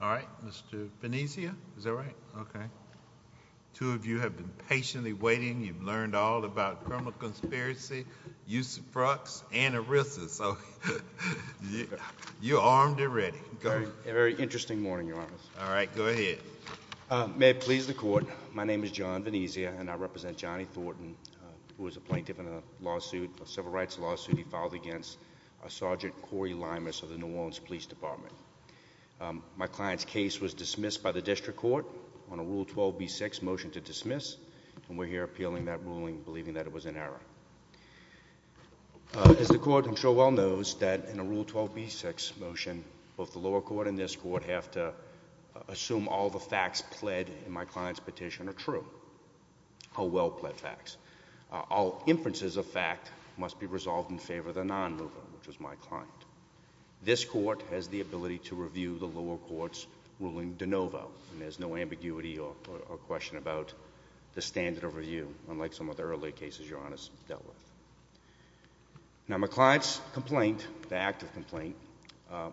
All right, Mr. Venezia, is that right? Okay. Two of you have been patiently waiting. You've learned all about criminal conspiracy, use of drugs, and arrests, so you're armed and ready. Very interesting morning, Your Honor. All right, go ahead. May it please the Court, My name is John Venezia, and I represent Johnny Thornton, who was a plaintiff in a civil rights lawsuit he filed against Sergeant Corey Lymous of the New Orleans Police Department. My client's case was dismissed by the District Court on a Rule 12b6 motion to dismiss, and we're here appealing that ruling, believing that it was in error. As the Court, I'm sure, well knows that in a Rule 12b6 motion, both the lower court and this Court have to assume all the are true, are well-pled facts. All inferences of fact must be resolved in favor of the non-mover, which was my client. This Court has the ability to review the lower court's ruling de novo, and there's no ambiguity or question about the standard of review, unlike some of the earlier cases Your Honor's dealt with. Now, my client's complaint, the active complaint,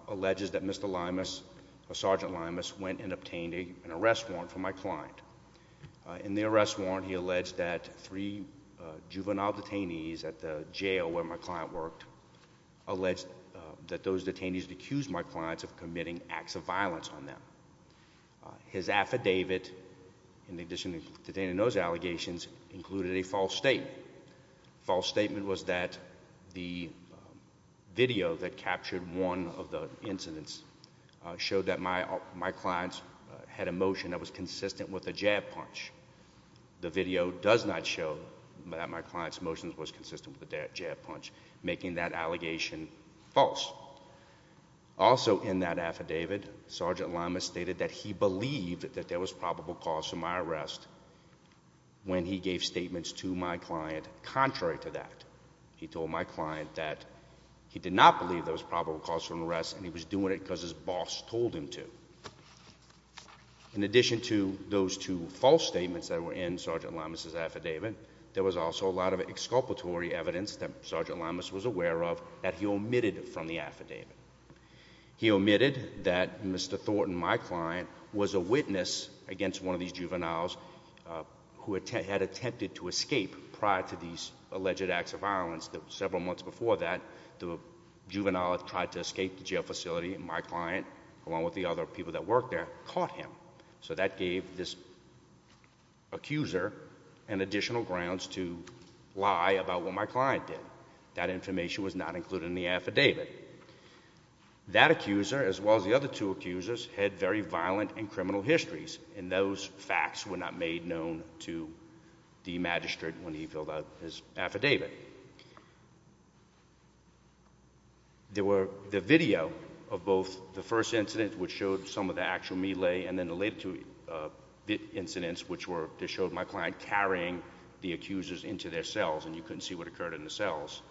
alleges that Mr. Lymous, or Sergeant Lymous, went and obtained an arrest warrant for my client. In the arrest warrant, he alleged that three juvenile detainees at the jail where my client worked alleged that those detainees accused my clients of committing acts of violence on them. His affidavit, in addition to detaining those allegations, included a false statement. False statement was that the video that captured one of the incidents showed that my clients had a motion that was consistent with a jab punch. The video does not show that my client's motion was consistent with a jab punch, making that allegation false. Also in that affidavit, Sergeant Lymous stated that he believed that there was probable cause for my arrest when he gave statements to my client contrary to that. He told my client that he did not believe there was probable cause for an arrest, and he was doing it because his boss told him to. In addition to those two false statements that were in Sergeant Lymous' affidavit, there was also a lot of exculpatory evidence that Sergeant Lymous was aware of that he omitted from the affidavit. He omitted that Mr. Thornton, my client, was a witness against one of these juveniles who had attempted to escape prior to these alleged acts of violence. Several months before that, the juvenile tried to escape the jail facility, and my client, along with the other people that worked there, caught him. So that gave this accuser additional grounds to lie about what my client did. That information was not included in the affidavit. That accuser, as well as the other two accusers, had very violent and criminal histories, and those facts were not made known to the magistrate when he filled out his affidavit. There were the video of both the first incident, which showed some of the actual melee, and then the later two incidents, which were to show my client carrying the accusers into their cells, and you couldn't see what occurred in the cells.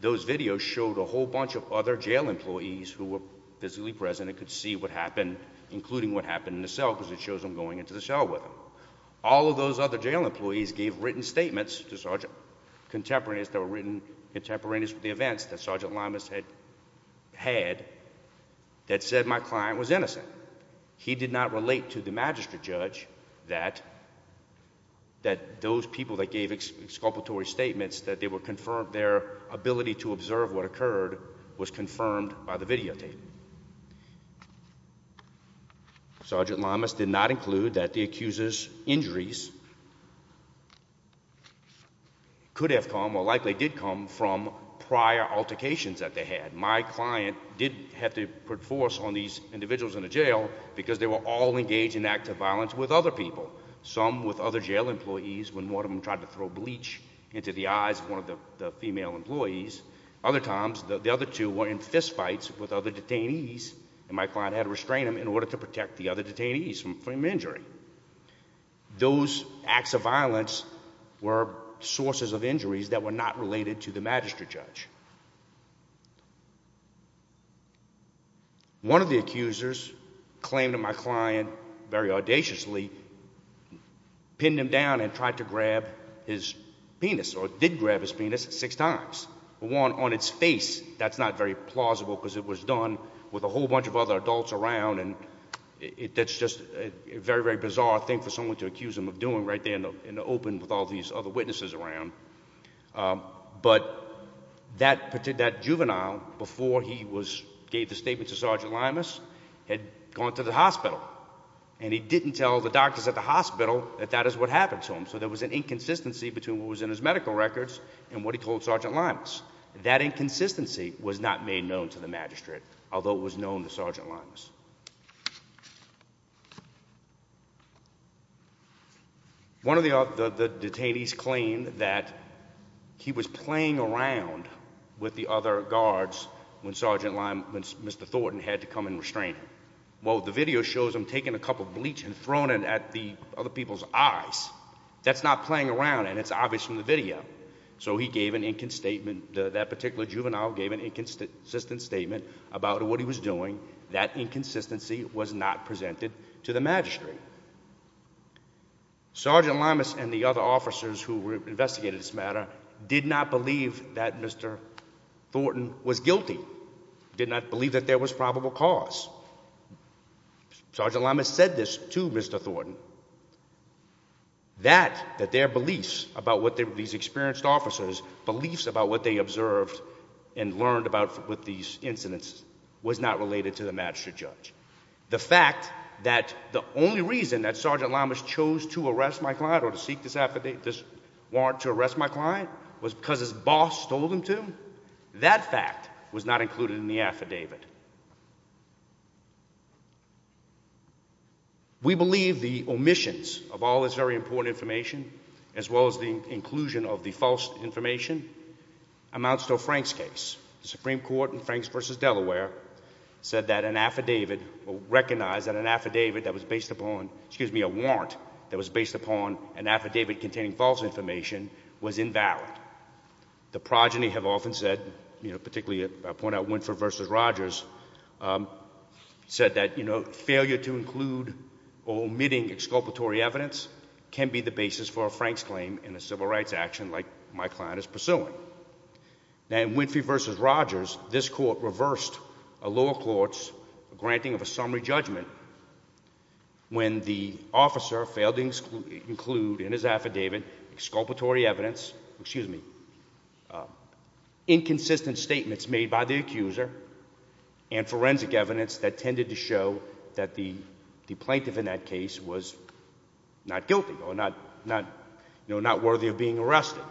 Those videos showed a whole bunch of other jail employees who were physically present and could see what happened, including what happened in the cell, because it shows them going into the cell with him. All of those other jail employees gave written statements to contemporaries that were written contemporaneous with the events that Sergeant Lamas had had that said my client was innocent. He did not relate to the magistrate judge that those people that gave exculpatory statements, that their ability to observe what happened by the videotape. Sergeant Lamas did not include that the accuser's injuries could have come, or likely did come, from prior altercations that they had. My client did have to put force on these individuals in the jail because they were all engaged in active violence with other people, some with other jail employees when one of them tried to throw bleach into the eyes of one of the female employees. Other times, the other two were in fistfights with other detainees, and my client had to restrain them in order to protect the other detainees from injury. Those acts of violence were sources of injuries that were not related to the magistrate judge. One of the accusers claimed to my client, very audaciously, pinned him down and tried to grab his penis, or did grab his penis, six times. One on its face, that's not very plausible because it was done with a whole bunch of other adults around, and that's just a very, very bizarre thing for someone to accuse him of doing right there in the open with all these other witnesses around. But that juvenile, before he gave the statements to Sergeant Limas, had gone to the hospital, and he didn't tell the doctors at the hospital that that is what happened to him. So there was an inconsistency between what was in his medical records and what he told Sergeant Limas. That inconsistency was not made known to the magistrate, although it was known to Sergeant Limas. One of the detainees claimed that he was playing around with the other guards when Sergeant Limas, Mr. Thornton, had to come and restrain him. Well, the video shows him taking a cup of bleach and throwing it at the other people's eyes. That's not playing around, and it's obvious from the video. So he gave an inconsistent statement, that particular juvenile gave an inconsistent statement about what he was doing. That inconsistency was not presented to the magistrate. Sergeant Limas and the other officers who Thornton was guilty did not believe that there was probable cause. Sergeant Limas said this to Mr. Thornton, that their beliefs about what these experienced officers, beliefs about what they observed and learned about with these incidents, was not related to the magistrate judge. The fact that the only reason that Sergeant Limas chose to arrest my client was because his boss told him to, that fact was not included in the affidavit. We believe the omissions of all this very important information, as well as the inclusion of the false information, amounts to a Franks case. The Supreme Court in Franks v. Delaware said that an affidavit, or recognized that an affidavit that was based upon, excuse me, a warrant that was based upon an affidavit containing false information, was invalid. The progeny have often said, you know, particularly I point out Winfrey v. Rogers, said that, you know, failure to include or omitting exculpatory evidence can be the basis for a Franks claim in a civil rights action like my client is pursuing. Now in Winfrey v. Rogers, this court reversed a lower court's granting of a summary judgment when the officer failed to include in his affidavit exculpatory evidence, excuse me, inconsistent statements made by the accuser and forensic evidence that tended to show that the plaintiff in that case was not guilty or not, you know, not worthy of being arrested. Now,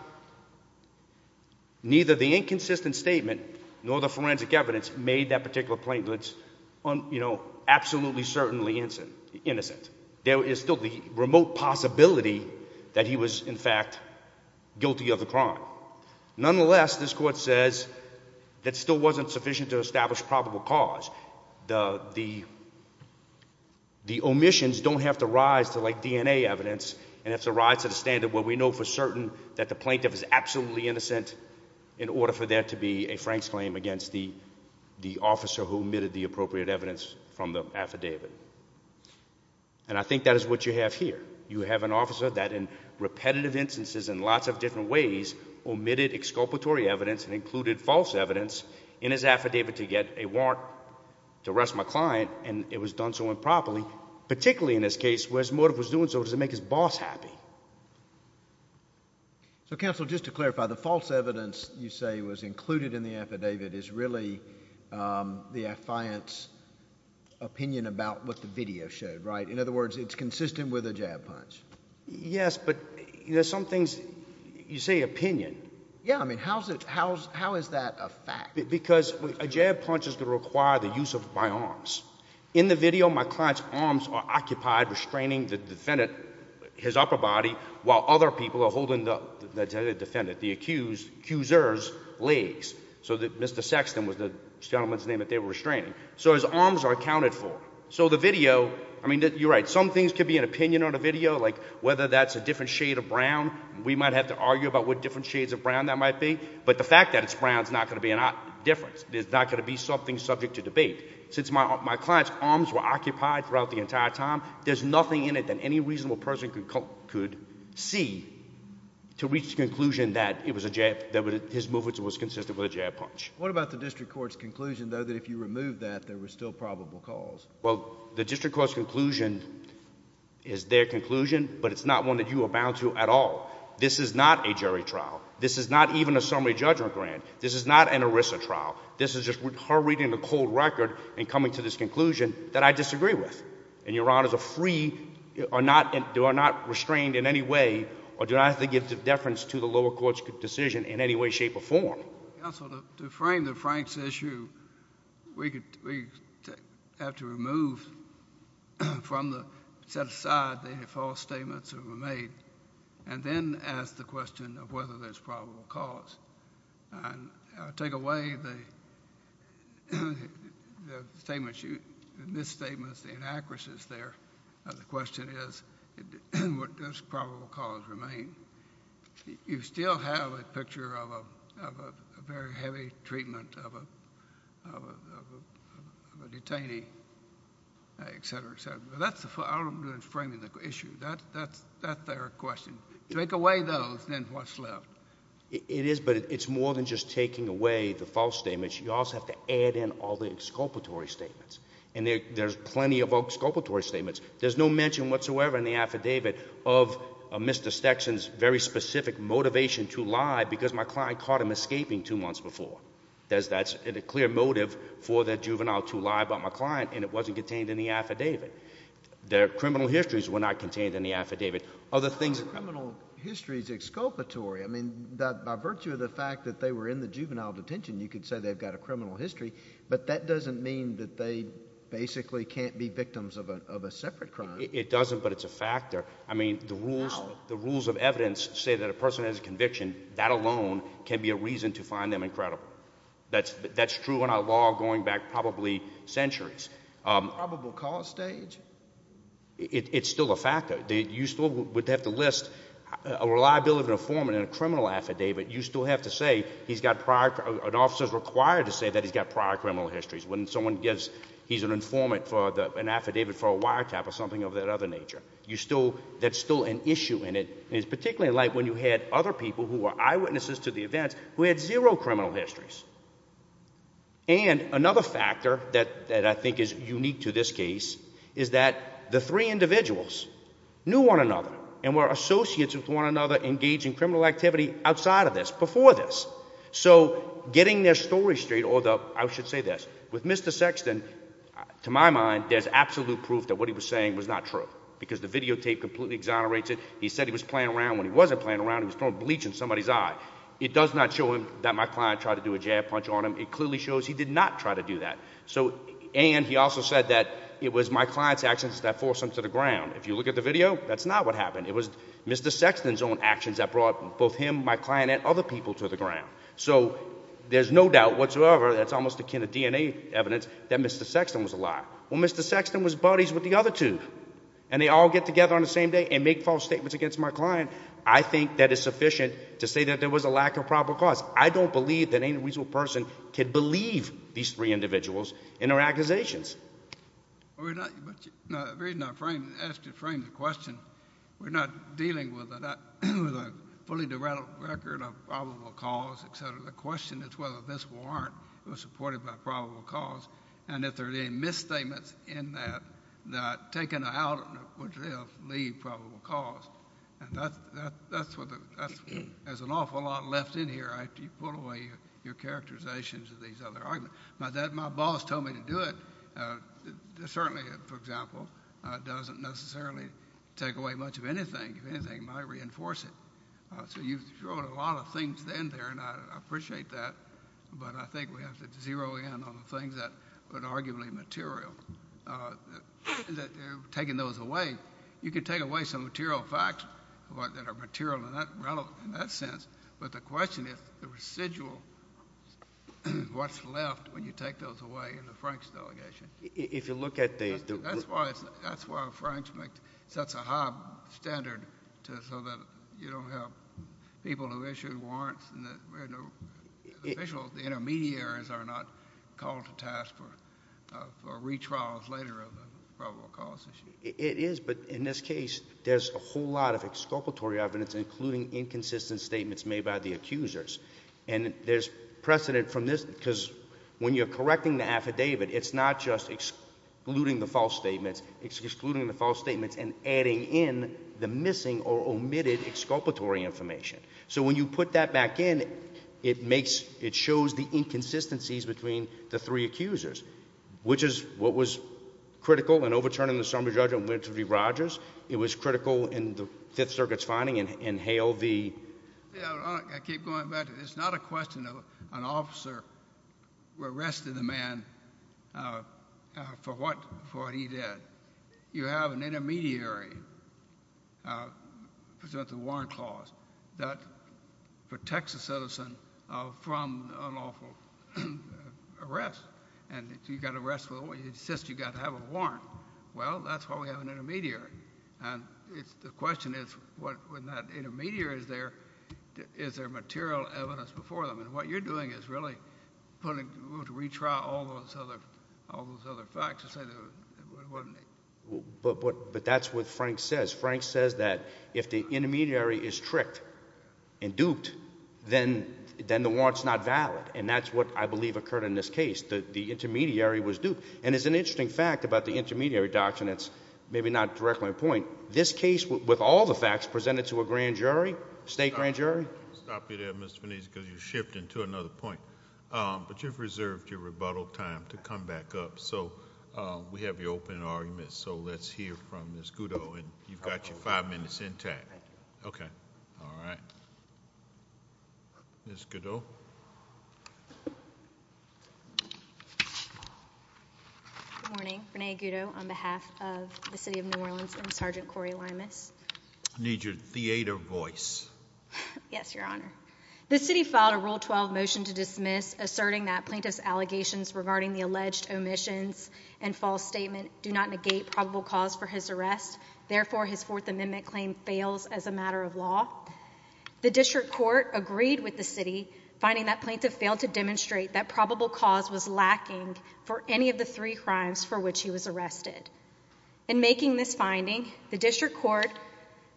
neither the inconsistent statement nor the forensic evidence made that particular plaintiff, you know, absolutely certainly innocent. There is still the remote possibility that he was, in fact, guilty of the crime. Nonetheless, this court says that still wasn't sufficient to establish probable cause. The omissions don't have to rise to like DNA evidence and have to rise to the standard where we know for certain that the plaintiff is absolutely innocent in order for there to be a Franks claim against the officer who omitted the appropriate evidence from the affidavit. And I think that is what you have here. You have an officer that in repetitive instances in lots of different ways omitted exculpatory evidence and included false evidence in his affidavit to get a warrant to arrest my client and it was done so improperly, particularly in this case, whereas Mordiff was doing so to make his boss happy. So, counsel, just to clarify, the false evidence you say was included in the affidavit is really the affiant's opinion about what the video showed, right? In other words, it's consistent with a jab punch. Yes, but there's some things, you say opinion. Yeah, I mean, how is that a fact? Because a jab punch is to require the use of my arms. In the video, my client's arms are occupied restraining the defendant, his upper body, while other people are holding the defendant, the accused, accuser's legs. So Mr. Sexton was the gentleman's name that they were restraining. So his arms are accounted for. So the video, I mean, you're right, some things could be an opinion on a video, like whether that's a different shade of brown. We might have to argue about what different shades of brown that might be. But the fact that it's brown is not going to be a difference. It's not going to be something to debate. Since my client's arms were occupied throughout the entire time, there's nothing in it that any reasonable person could see to reach the conclusion that his movements was consistent with a jab punch. What about the district court's conclusion, though, that if you remove that, there were still probable cause? Well, the district court's conclusion is their conclusion, but it's not one that you are bound to at all. This is not a jury trial. This is not even a summary judgment grant. This is not an ERISA trial. This is just her reading the cold record and coming to this conclusion that I disagree with. And your honors are not restrained in any way or do not have to give deference to the lower court's decision in any way, shape, or form. Counsel, to frame the Franks issue, we have to remove from the set aside the false statements that were made and then ask the question of whether there's probable cause. And I'll take away the misstatements, the inaccuracies there. The question is, does probable cause remain? You still have a picture of a very heavy treatment of a detainee, et cetera, et cetera. I'm not framing the issue. That's their question. Take away those and then what's left. It is, but it's more than just taking away the false statements. You also have to add in all the exculpatory statements. And there's plenty of exculpatory statements. There's no mention whatsoever in the affidavit of Mr. Stetson's very specific motivation to lie because my client caught him escaping two months before. That's a clear motive for that juvenile to lie about my their criminal histories were not contained in the affidavit. Other things. The criminal history is exculpatory. I mean, by virtue of the fact that they were in the juvenile detention, you could say they've got a criminal history, but that doesn't mean that they basically can't be victims of a separate crime. It doesn't, but it's a factor. I mean, the rules of evidence say that a person has a conviction. That alone can be a reason to find them incredible. That's true in law going back probably centuries. Um, probable cause stage. It's still a factor that you still would have to list a reliability of an informant in a criminal affidavit. You still have to say he's got prior officers required to say that he's got prior criminal histories when someone gets he's an informant for an affidavit for a wiretap or something of that other nature. You still, that's still an issue in it is particularly like when you had other people who are eyewitnesses of the events who had zero criminal histories. And another factor that that I think is unique to this case is that the three individuals knew one another and were associates with one another engaging criminal activity outside of this before this. So getting their story straight, although I should say this with Mr. Sexton, to my mind, there's absolute proof that what he was saying was not true because the videotape completely exonerates it. He said he was playing around. He was throwing bleach in somebody's eye. It does not show him that my client tried to do a jab punch on him. It clearly shows he did not try to do that. So, and he also said that it was my client's actions that forced him to the ground. If you look at the video, that's not what happened. It was Mr. Sexton's own actions that brought both him, my client and other people to the ground. So there's no doubt whatsoever. That's almost akin to DNA evidence that Mr. Sexton was a lie. Well, Mr. Sexton was buddies with the other two and they all get together on the same day and make false statements against my client. I think that is sufficient to say that there was a lack of probable cause. I don't believe that any reasonable person could believe these three individuals in their accusations. The reason I asked you to frame the question, we're not dealing with a fully developed record of probable cause, et cetera. The question is whether this warrant was supported by probable cause and if there are any misstatements in that, that would leave probable cause. There's an awful lot left in here after you pull away your characterizations of these other arguments. My boss told me to do it. Certainly, for example, it doesn't necessarily take away much of anything. If anything, it might reinforce it. So you've thrown a lot of things in there and I appreciate that, but I think we have to zero in on the things that are arguably material. You can take away some material facts that are material in that sense, but the question is the residual, what's left when you take those away in the Franks delegation? That's why Franks sets a high standard so that you don't have people who issued warrants and the officials, the intermediaries are not called to task for retrials later of a probable cause issue. It is, but in this case, there's a whole lot of exculpatory evidence, including inconsistent statements made by the accusers. There's precedent from this because when you're correcting the affidavit, it's not just excluding the false statements, it's excluding the false statements and adding in the missing or omitted exculpatory information. So when you put that back in, it makes, it shows the inconsistencies between the three accusers, which is what was critical in overturning the summary judgment, which would be Rogers. It was critical in the Fifth Circuit's finding and Hale v... I keep going back. It's not a question of an officer arrested the man for what he did. You have an intermediary present the warrant clause that protects a citizen from unlawful arrest. And if you got arrested, you insist you got to have a warrant. Well, that's why we have an intermediary. And it's, the question is what, when that intermediary is there, is there material evidence before them? And what you're doing is really putting, to retry all those other, all those other facts. But, but, but that's what Frank says. Frank says that if the intermediary is tricked and duped, then, then the warrant's not valid. And that's what I believe occurred in this case. The intermediary was duped. And it's an interesting fact about the intermediary doctrine. It's maybe not directly a point. This case with all the facts presented to a grand jury, state grand jury. Stop you there, Mr. Venise, because you're shifting to another point. But you've reserved your rebuttal time to come back up. So, we have your open argument. So, let's hear from Ms. Gudeau. And you've got your five minutes intact. Okay. All right. Ms. Gudeau. Good morning. Renee Gudeau on behalf of the City of New Orleans and Sergeant Corey Limas. I need your theater voice. Yes, Your Honor. The city filed a Rule 12 motion to dismiss, asserting that plaintiff's allegations regarding the alleged omissions and false statement do not negate probable cause for his arrest. Therefore, his Fourth Amendment claim fails as a matter of law. The district court agreed with the city, finding that plaintiff failed to demonstrate that probable cause was lacking for any of the three crimes for which he was arrested. In making this finding, the district court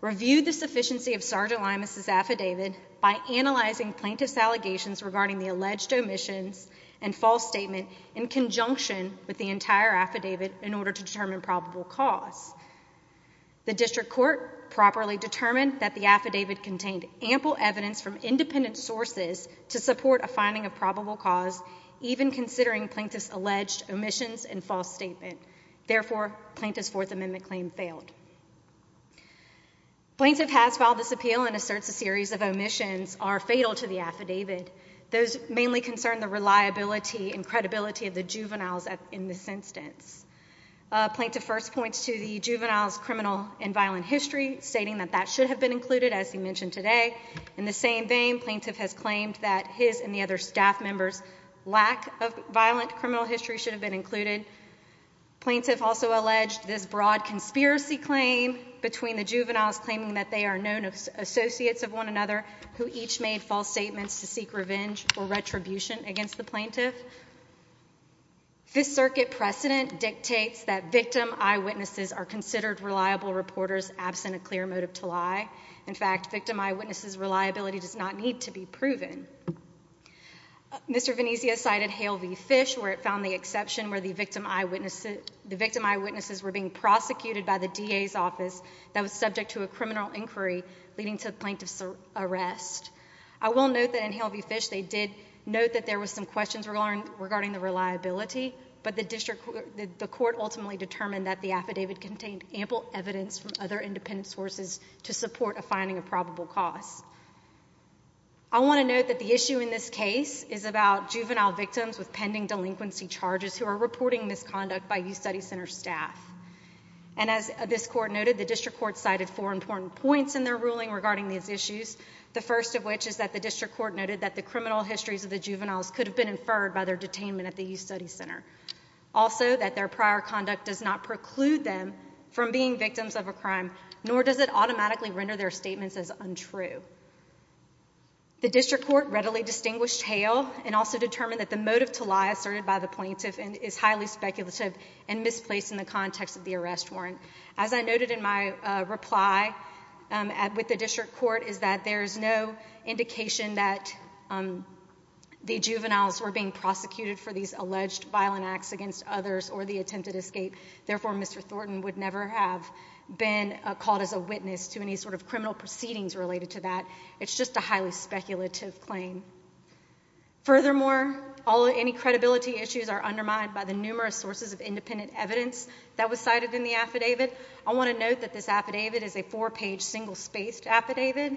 reviewed the sufficiency of Sergeant Limas' affidavit by analyzing plaintiff's allegations regarding the alleged omissions and false statement in conjunction with the entire affidavit in order to determine probable cause. The district court properly determined that the affidavit contained ample evidence from independent sources to support a finding of probable cause, even considering plaintiff's omissions and false statement. Therefore, plaintiff's Fourth Amendment claim failed. Plaintiff has filed this appeal and asserts a series of omissions are fatal to the affidavit. Those mainly concern the reliability and credibility of the juveniles in this instance. Plaintiff first points to the juveniles' criminal and violent history, stating that that should have been included, as he mentioned today. In the same vein, plaintiff has claimed that his and the other staff members' lack of violent criminal history should have been included. Plaintiff also alleged this broad conspiracy claim between the juveniles, claiming that they are known associates of one another who each made false statements to seek revenge or retribution against the plaintiff. This circuit precedent dictates that victim eyewitnesses are considered reliable reporters absent a clear motive to lie. In fact, victim eyewitnesses' lies do not need to be proven. Mr. Venezia cited Hale v. Fish, where it found the exception where the victim eyewitnesses were being prosecuted by the DA's office that was subject to a criminal inquiry leading to the plaintiff's arrest. I will note that in Hale v. Fish, they did note that there were some questions regarding the reliability, but the court ultimately determined that the affidavit contained ample evidence from other independent sources to support a finding of I want to note that the issue in this case is about juvenile victims with pending delinquency charges who are reporting misconduct by Youth Studies Center staff. And as this court noted, the district court cited four important points in their ruling regarding these issues, the first of which is that the district court noted that the criminal histories of the juveniles could have been inferred by their detainment at the Youth Studies Center. Also, that their prior conduct does not preclude them from being victims of a crime, nor does it automatically render their guilty. The district court readily distinguished Hale and also determined that the motive to lie asserted by the plaintiff is highly speculative and misplaced in the context of the arrest warrant. As I noted in my reply with the district court is that there is no indication that the juveniles were being prosecuted for these alleged violent acts against others or the attempted escape. Therefore, Mr. Thornton would never have been called as a witness to any sort proceedings related to that. It's just a highly speculative claim. Furthermore, all any credibility issues are undermined by the numerous sources of independent evidence that was cited in the affidavit. I want to note that this affidavit is a four-page, single-spaced affidavit,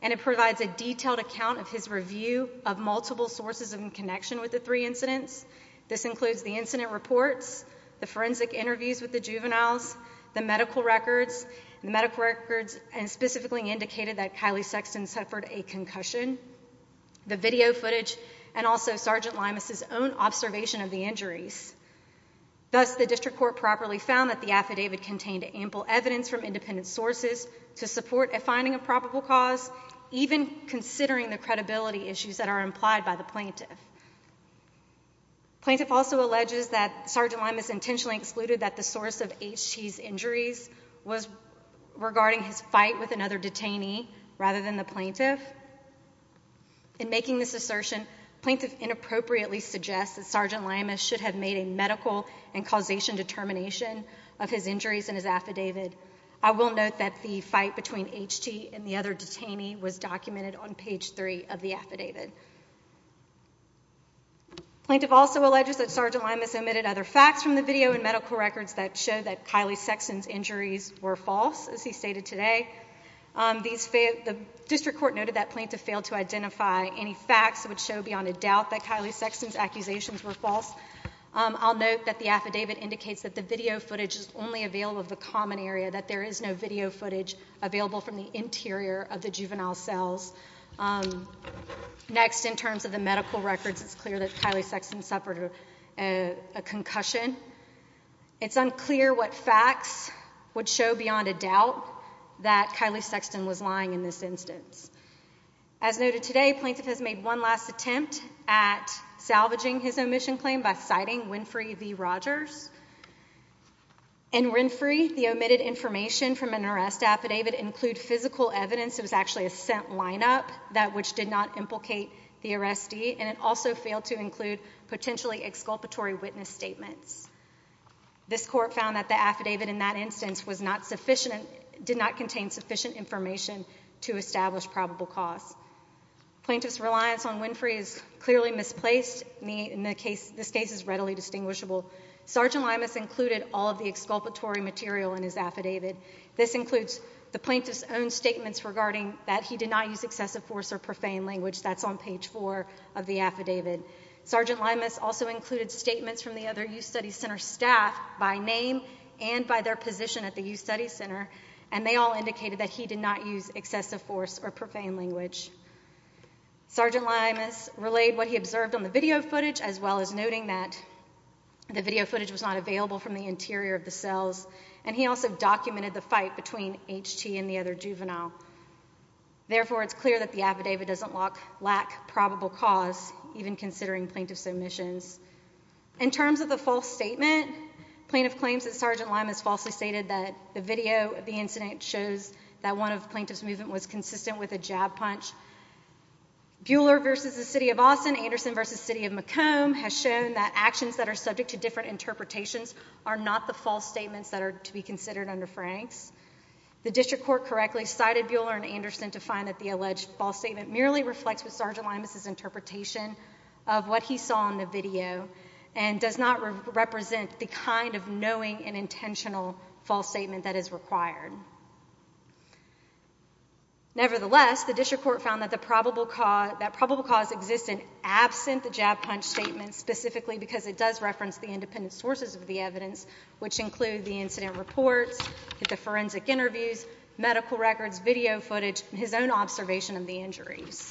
and it provides a detailed account of his review of multiple sources in connection with the three incidents. This includes the incident reports, the forensic indicated that Kylie Sexton suffered a concussion, the video footage, and also Sergeant Limus' own observation of the injuries. Thus, the district court properly found that the affidavit contained ample evidence from independent sources to support a finding of probable cause, even considering the credibility issues that are implied by the plaintiff. Plaintiff also alleges that Sergeant Limus intentionally excluded that the source of H.T.'s injuries was regarding his fight with another detainee rather than the plaintiff. In making this assertion, plaintiff inappropriately suggests that Sergeant Limus should have made a medical and causation determination of his injuries in his affidavit. I will note that the fight between H.T. and the other detainee was documented on page three of the affidavit. Plaintiff also alleges that Sergeant Limus omitted other facts from the video and medical records that show that Kylie Sexton's injuries were false, as he stated today. The district court noted that plaintiff failed to identify any facts which show beyond a doubt that Kylie Sexton's accusations were false. I'll note that the affidavit indicates that the video footage is only available of the common area, that there is no video footage available from the interior of the juvenile cells. Next, in terms of the medical records, it's clear that Kylie Sexton suffered a concussion. It's unclear what facts would show beyond a doubt that Kylie Sexton was lying in this instance. As noted today, plaintiff has made one last attempt at salvaging his omission claim by citing Winfrey v. Rogers. In Winfrey, the omitted information from an arrest affidavit include physical evidence, it was actually a scent lineup, that which did not exculpatory witness statements. This court found that the affidavit in that instance did not contain sufficient information to establish probable cause. Plaintiff's reliance on Winfrey is clearly misplaced. This case is readily distinguishable. Sergeant Limus included all of the exculpatory material in his affidavit. This includes the plaintiff's own statements regarding that he did not use excessive force or profane language. That's on page four of the affidavit. Sergeant Limus also included statements from the other Youth Studies Center staff by name and by their position at the Youth Studies Center, and they all indicated that he did not use excessive force or profane language. Sergeant Limus relayed what he observed on the video footage, as well as noting that the video footage was not available from the interior of the cells, and he also documented the fight between H.T. and the other juvenile. Therefore, it's clear that the affidavit doesn't lack probable cause, even considering plaintiff's omissions. In terms of the false statement, plaintiff claims that Sergeant Limus falsely stated that the video of the incident shows that one of the plaintiff's movement was consistent with a jab punch. Buehler versus the City of Austin, Anderson versus City of Macomb has shown that actions that are subject to different interpretations are not the false statements that are to be considered under Franks. The district court correctly cited Buehler and Anderson to find that the alleged false statement merely reflects what Sergeant Limus' interpretation of what he saw on the video and does not represent the kind of knowing and intentional false statement that is required. Nevertheless, the district court found that probable cause existed absent the jab punch statement, specifically because it does reference the independent sources of the evidence, which include the incident reports, the forensic interviews, medical records, video footage, and his own observation of the injuries.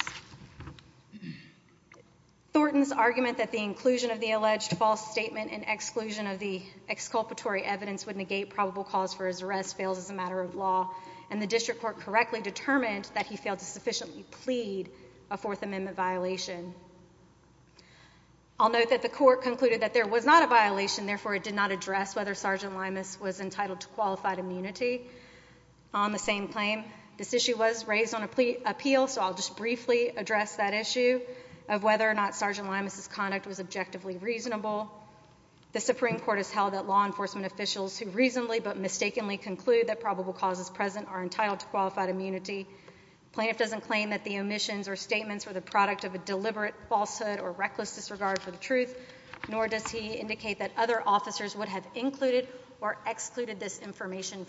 Thornton's argument that the inclusion of the alleged false statement and exclusion of the exculpatory evidence would negate probable cause for his arrest fails as a matter of law, and the district court correctly determined that he failed to sufficiently plead a Fourth Amendment violation. I'll note that the court concluded that there was not a violation, therefore it did not address whether Sergeant Limus was entitled to qualified immunity. On the same claim, this issue was raised on appeal, so I'll just briefly address that issue of whether or not Sergeant Limus' conduct was objectively reasonable. The Supreme Court has held that law enforcement officials who reasonably but mistakenly conclude that probable causes present are entitled to qualified immunity. Plaintiff doesn't claim that the omissions or statements were the product of a deliberate falsehood or reckless disregard for the truth, nor does he indicate that other officers would have included or excluded this statement.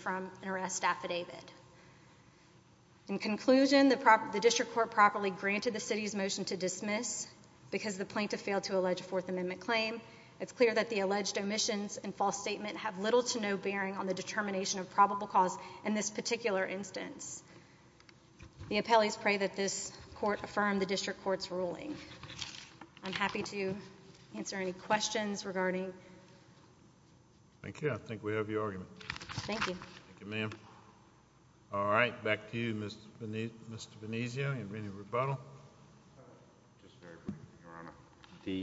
In conclusion, the district court properly granted the city's motion to dismiss because the plaintiff failed to allege a Fourth Amendment claim. It's clear that the alleged omissions and false statement have little to no bearing on the determination of probable cause in this particular instance. The appellees pray that this court affirm the district court's ruling. I'm happy to answer any questions regarding... Thank you. I think we have your argument. Thank you. Thank you, ma'am. All right. Back to you, Mr. Benicio. Any rebuttal? There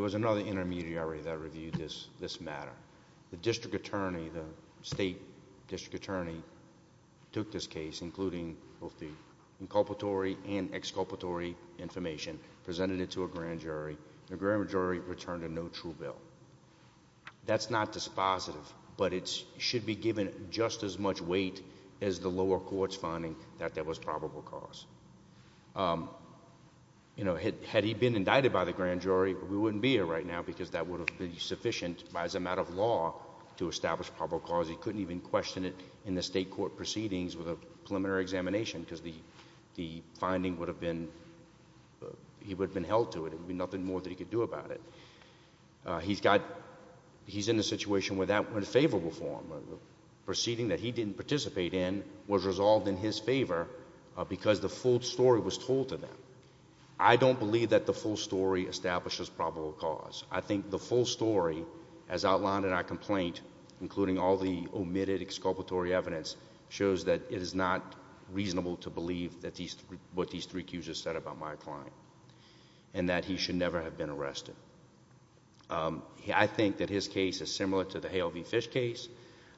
was another intermediary that reviewed this matter. The district attorney, the state district attorney, took this case, including both the inculpatory and exculpatory information, presented it to a grand jury. The grand jury returned a no true bill. That's not dispositive, but it should be given just as much weight as the lower court's finding that there was probable cause. Had he been indicted by the grand jury, we wouldn't be here right now because that would have been sufficient as a matter of law to establish probable cause. He couldn't even question it in the state court proceedings with a preliminary examination because the finding would have been... He would have been held to it. It would have been favorable for him. The proceeding that he didn't participate in was resolved in his favor because the full story was told to them. I don't believe that the full story establishes probable cause. I think the full story, as outlined in our complaint, including all the omitted exculpatory evidence, shows that it is not reasonable to believe what these three said about my client and that he should never have been arrested. I think that his case is similar to the Hale v. Fish case.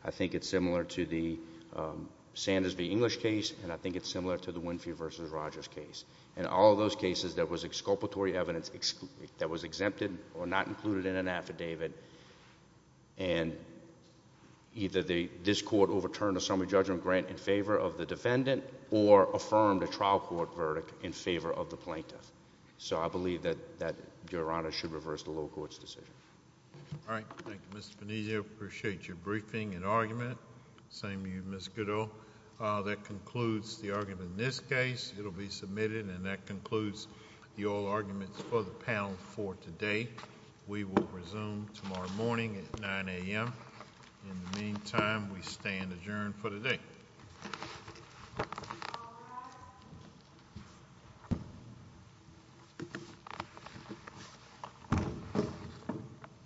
I think it's similar to the Sanders v. English case, and I think it's similar to the Winfrey v. Rogers case. In all of those cases, there was exculpatory evidence that was exempted or not included in an affidavit, and either this court overturned a summary judgment grant in favor of the defendant or affirmed a trial court verdict in favor of the plaintiff. I believe that Your Honor should reverse the low court's decision. All right. Thank you, Mr. Venezia. Appreciate your briefing and argument. Same to you, Ms. Goodall. That concludes the argument in this case. It'll be submitted, and that concludes the oral arguments for the panel for today. We will resume tomorrow morning at 9 a.m. In the meantime, we stand adjourned for today.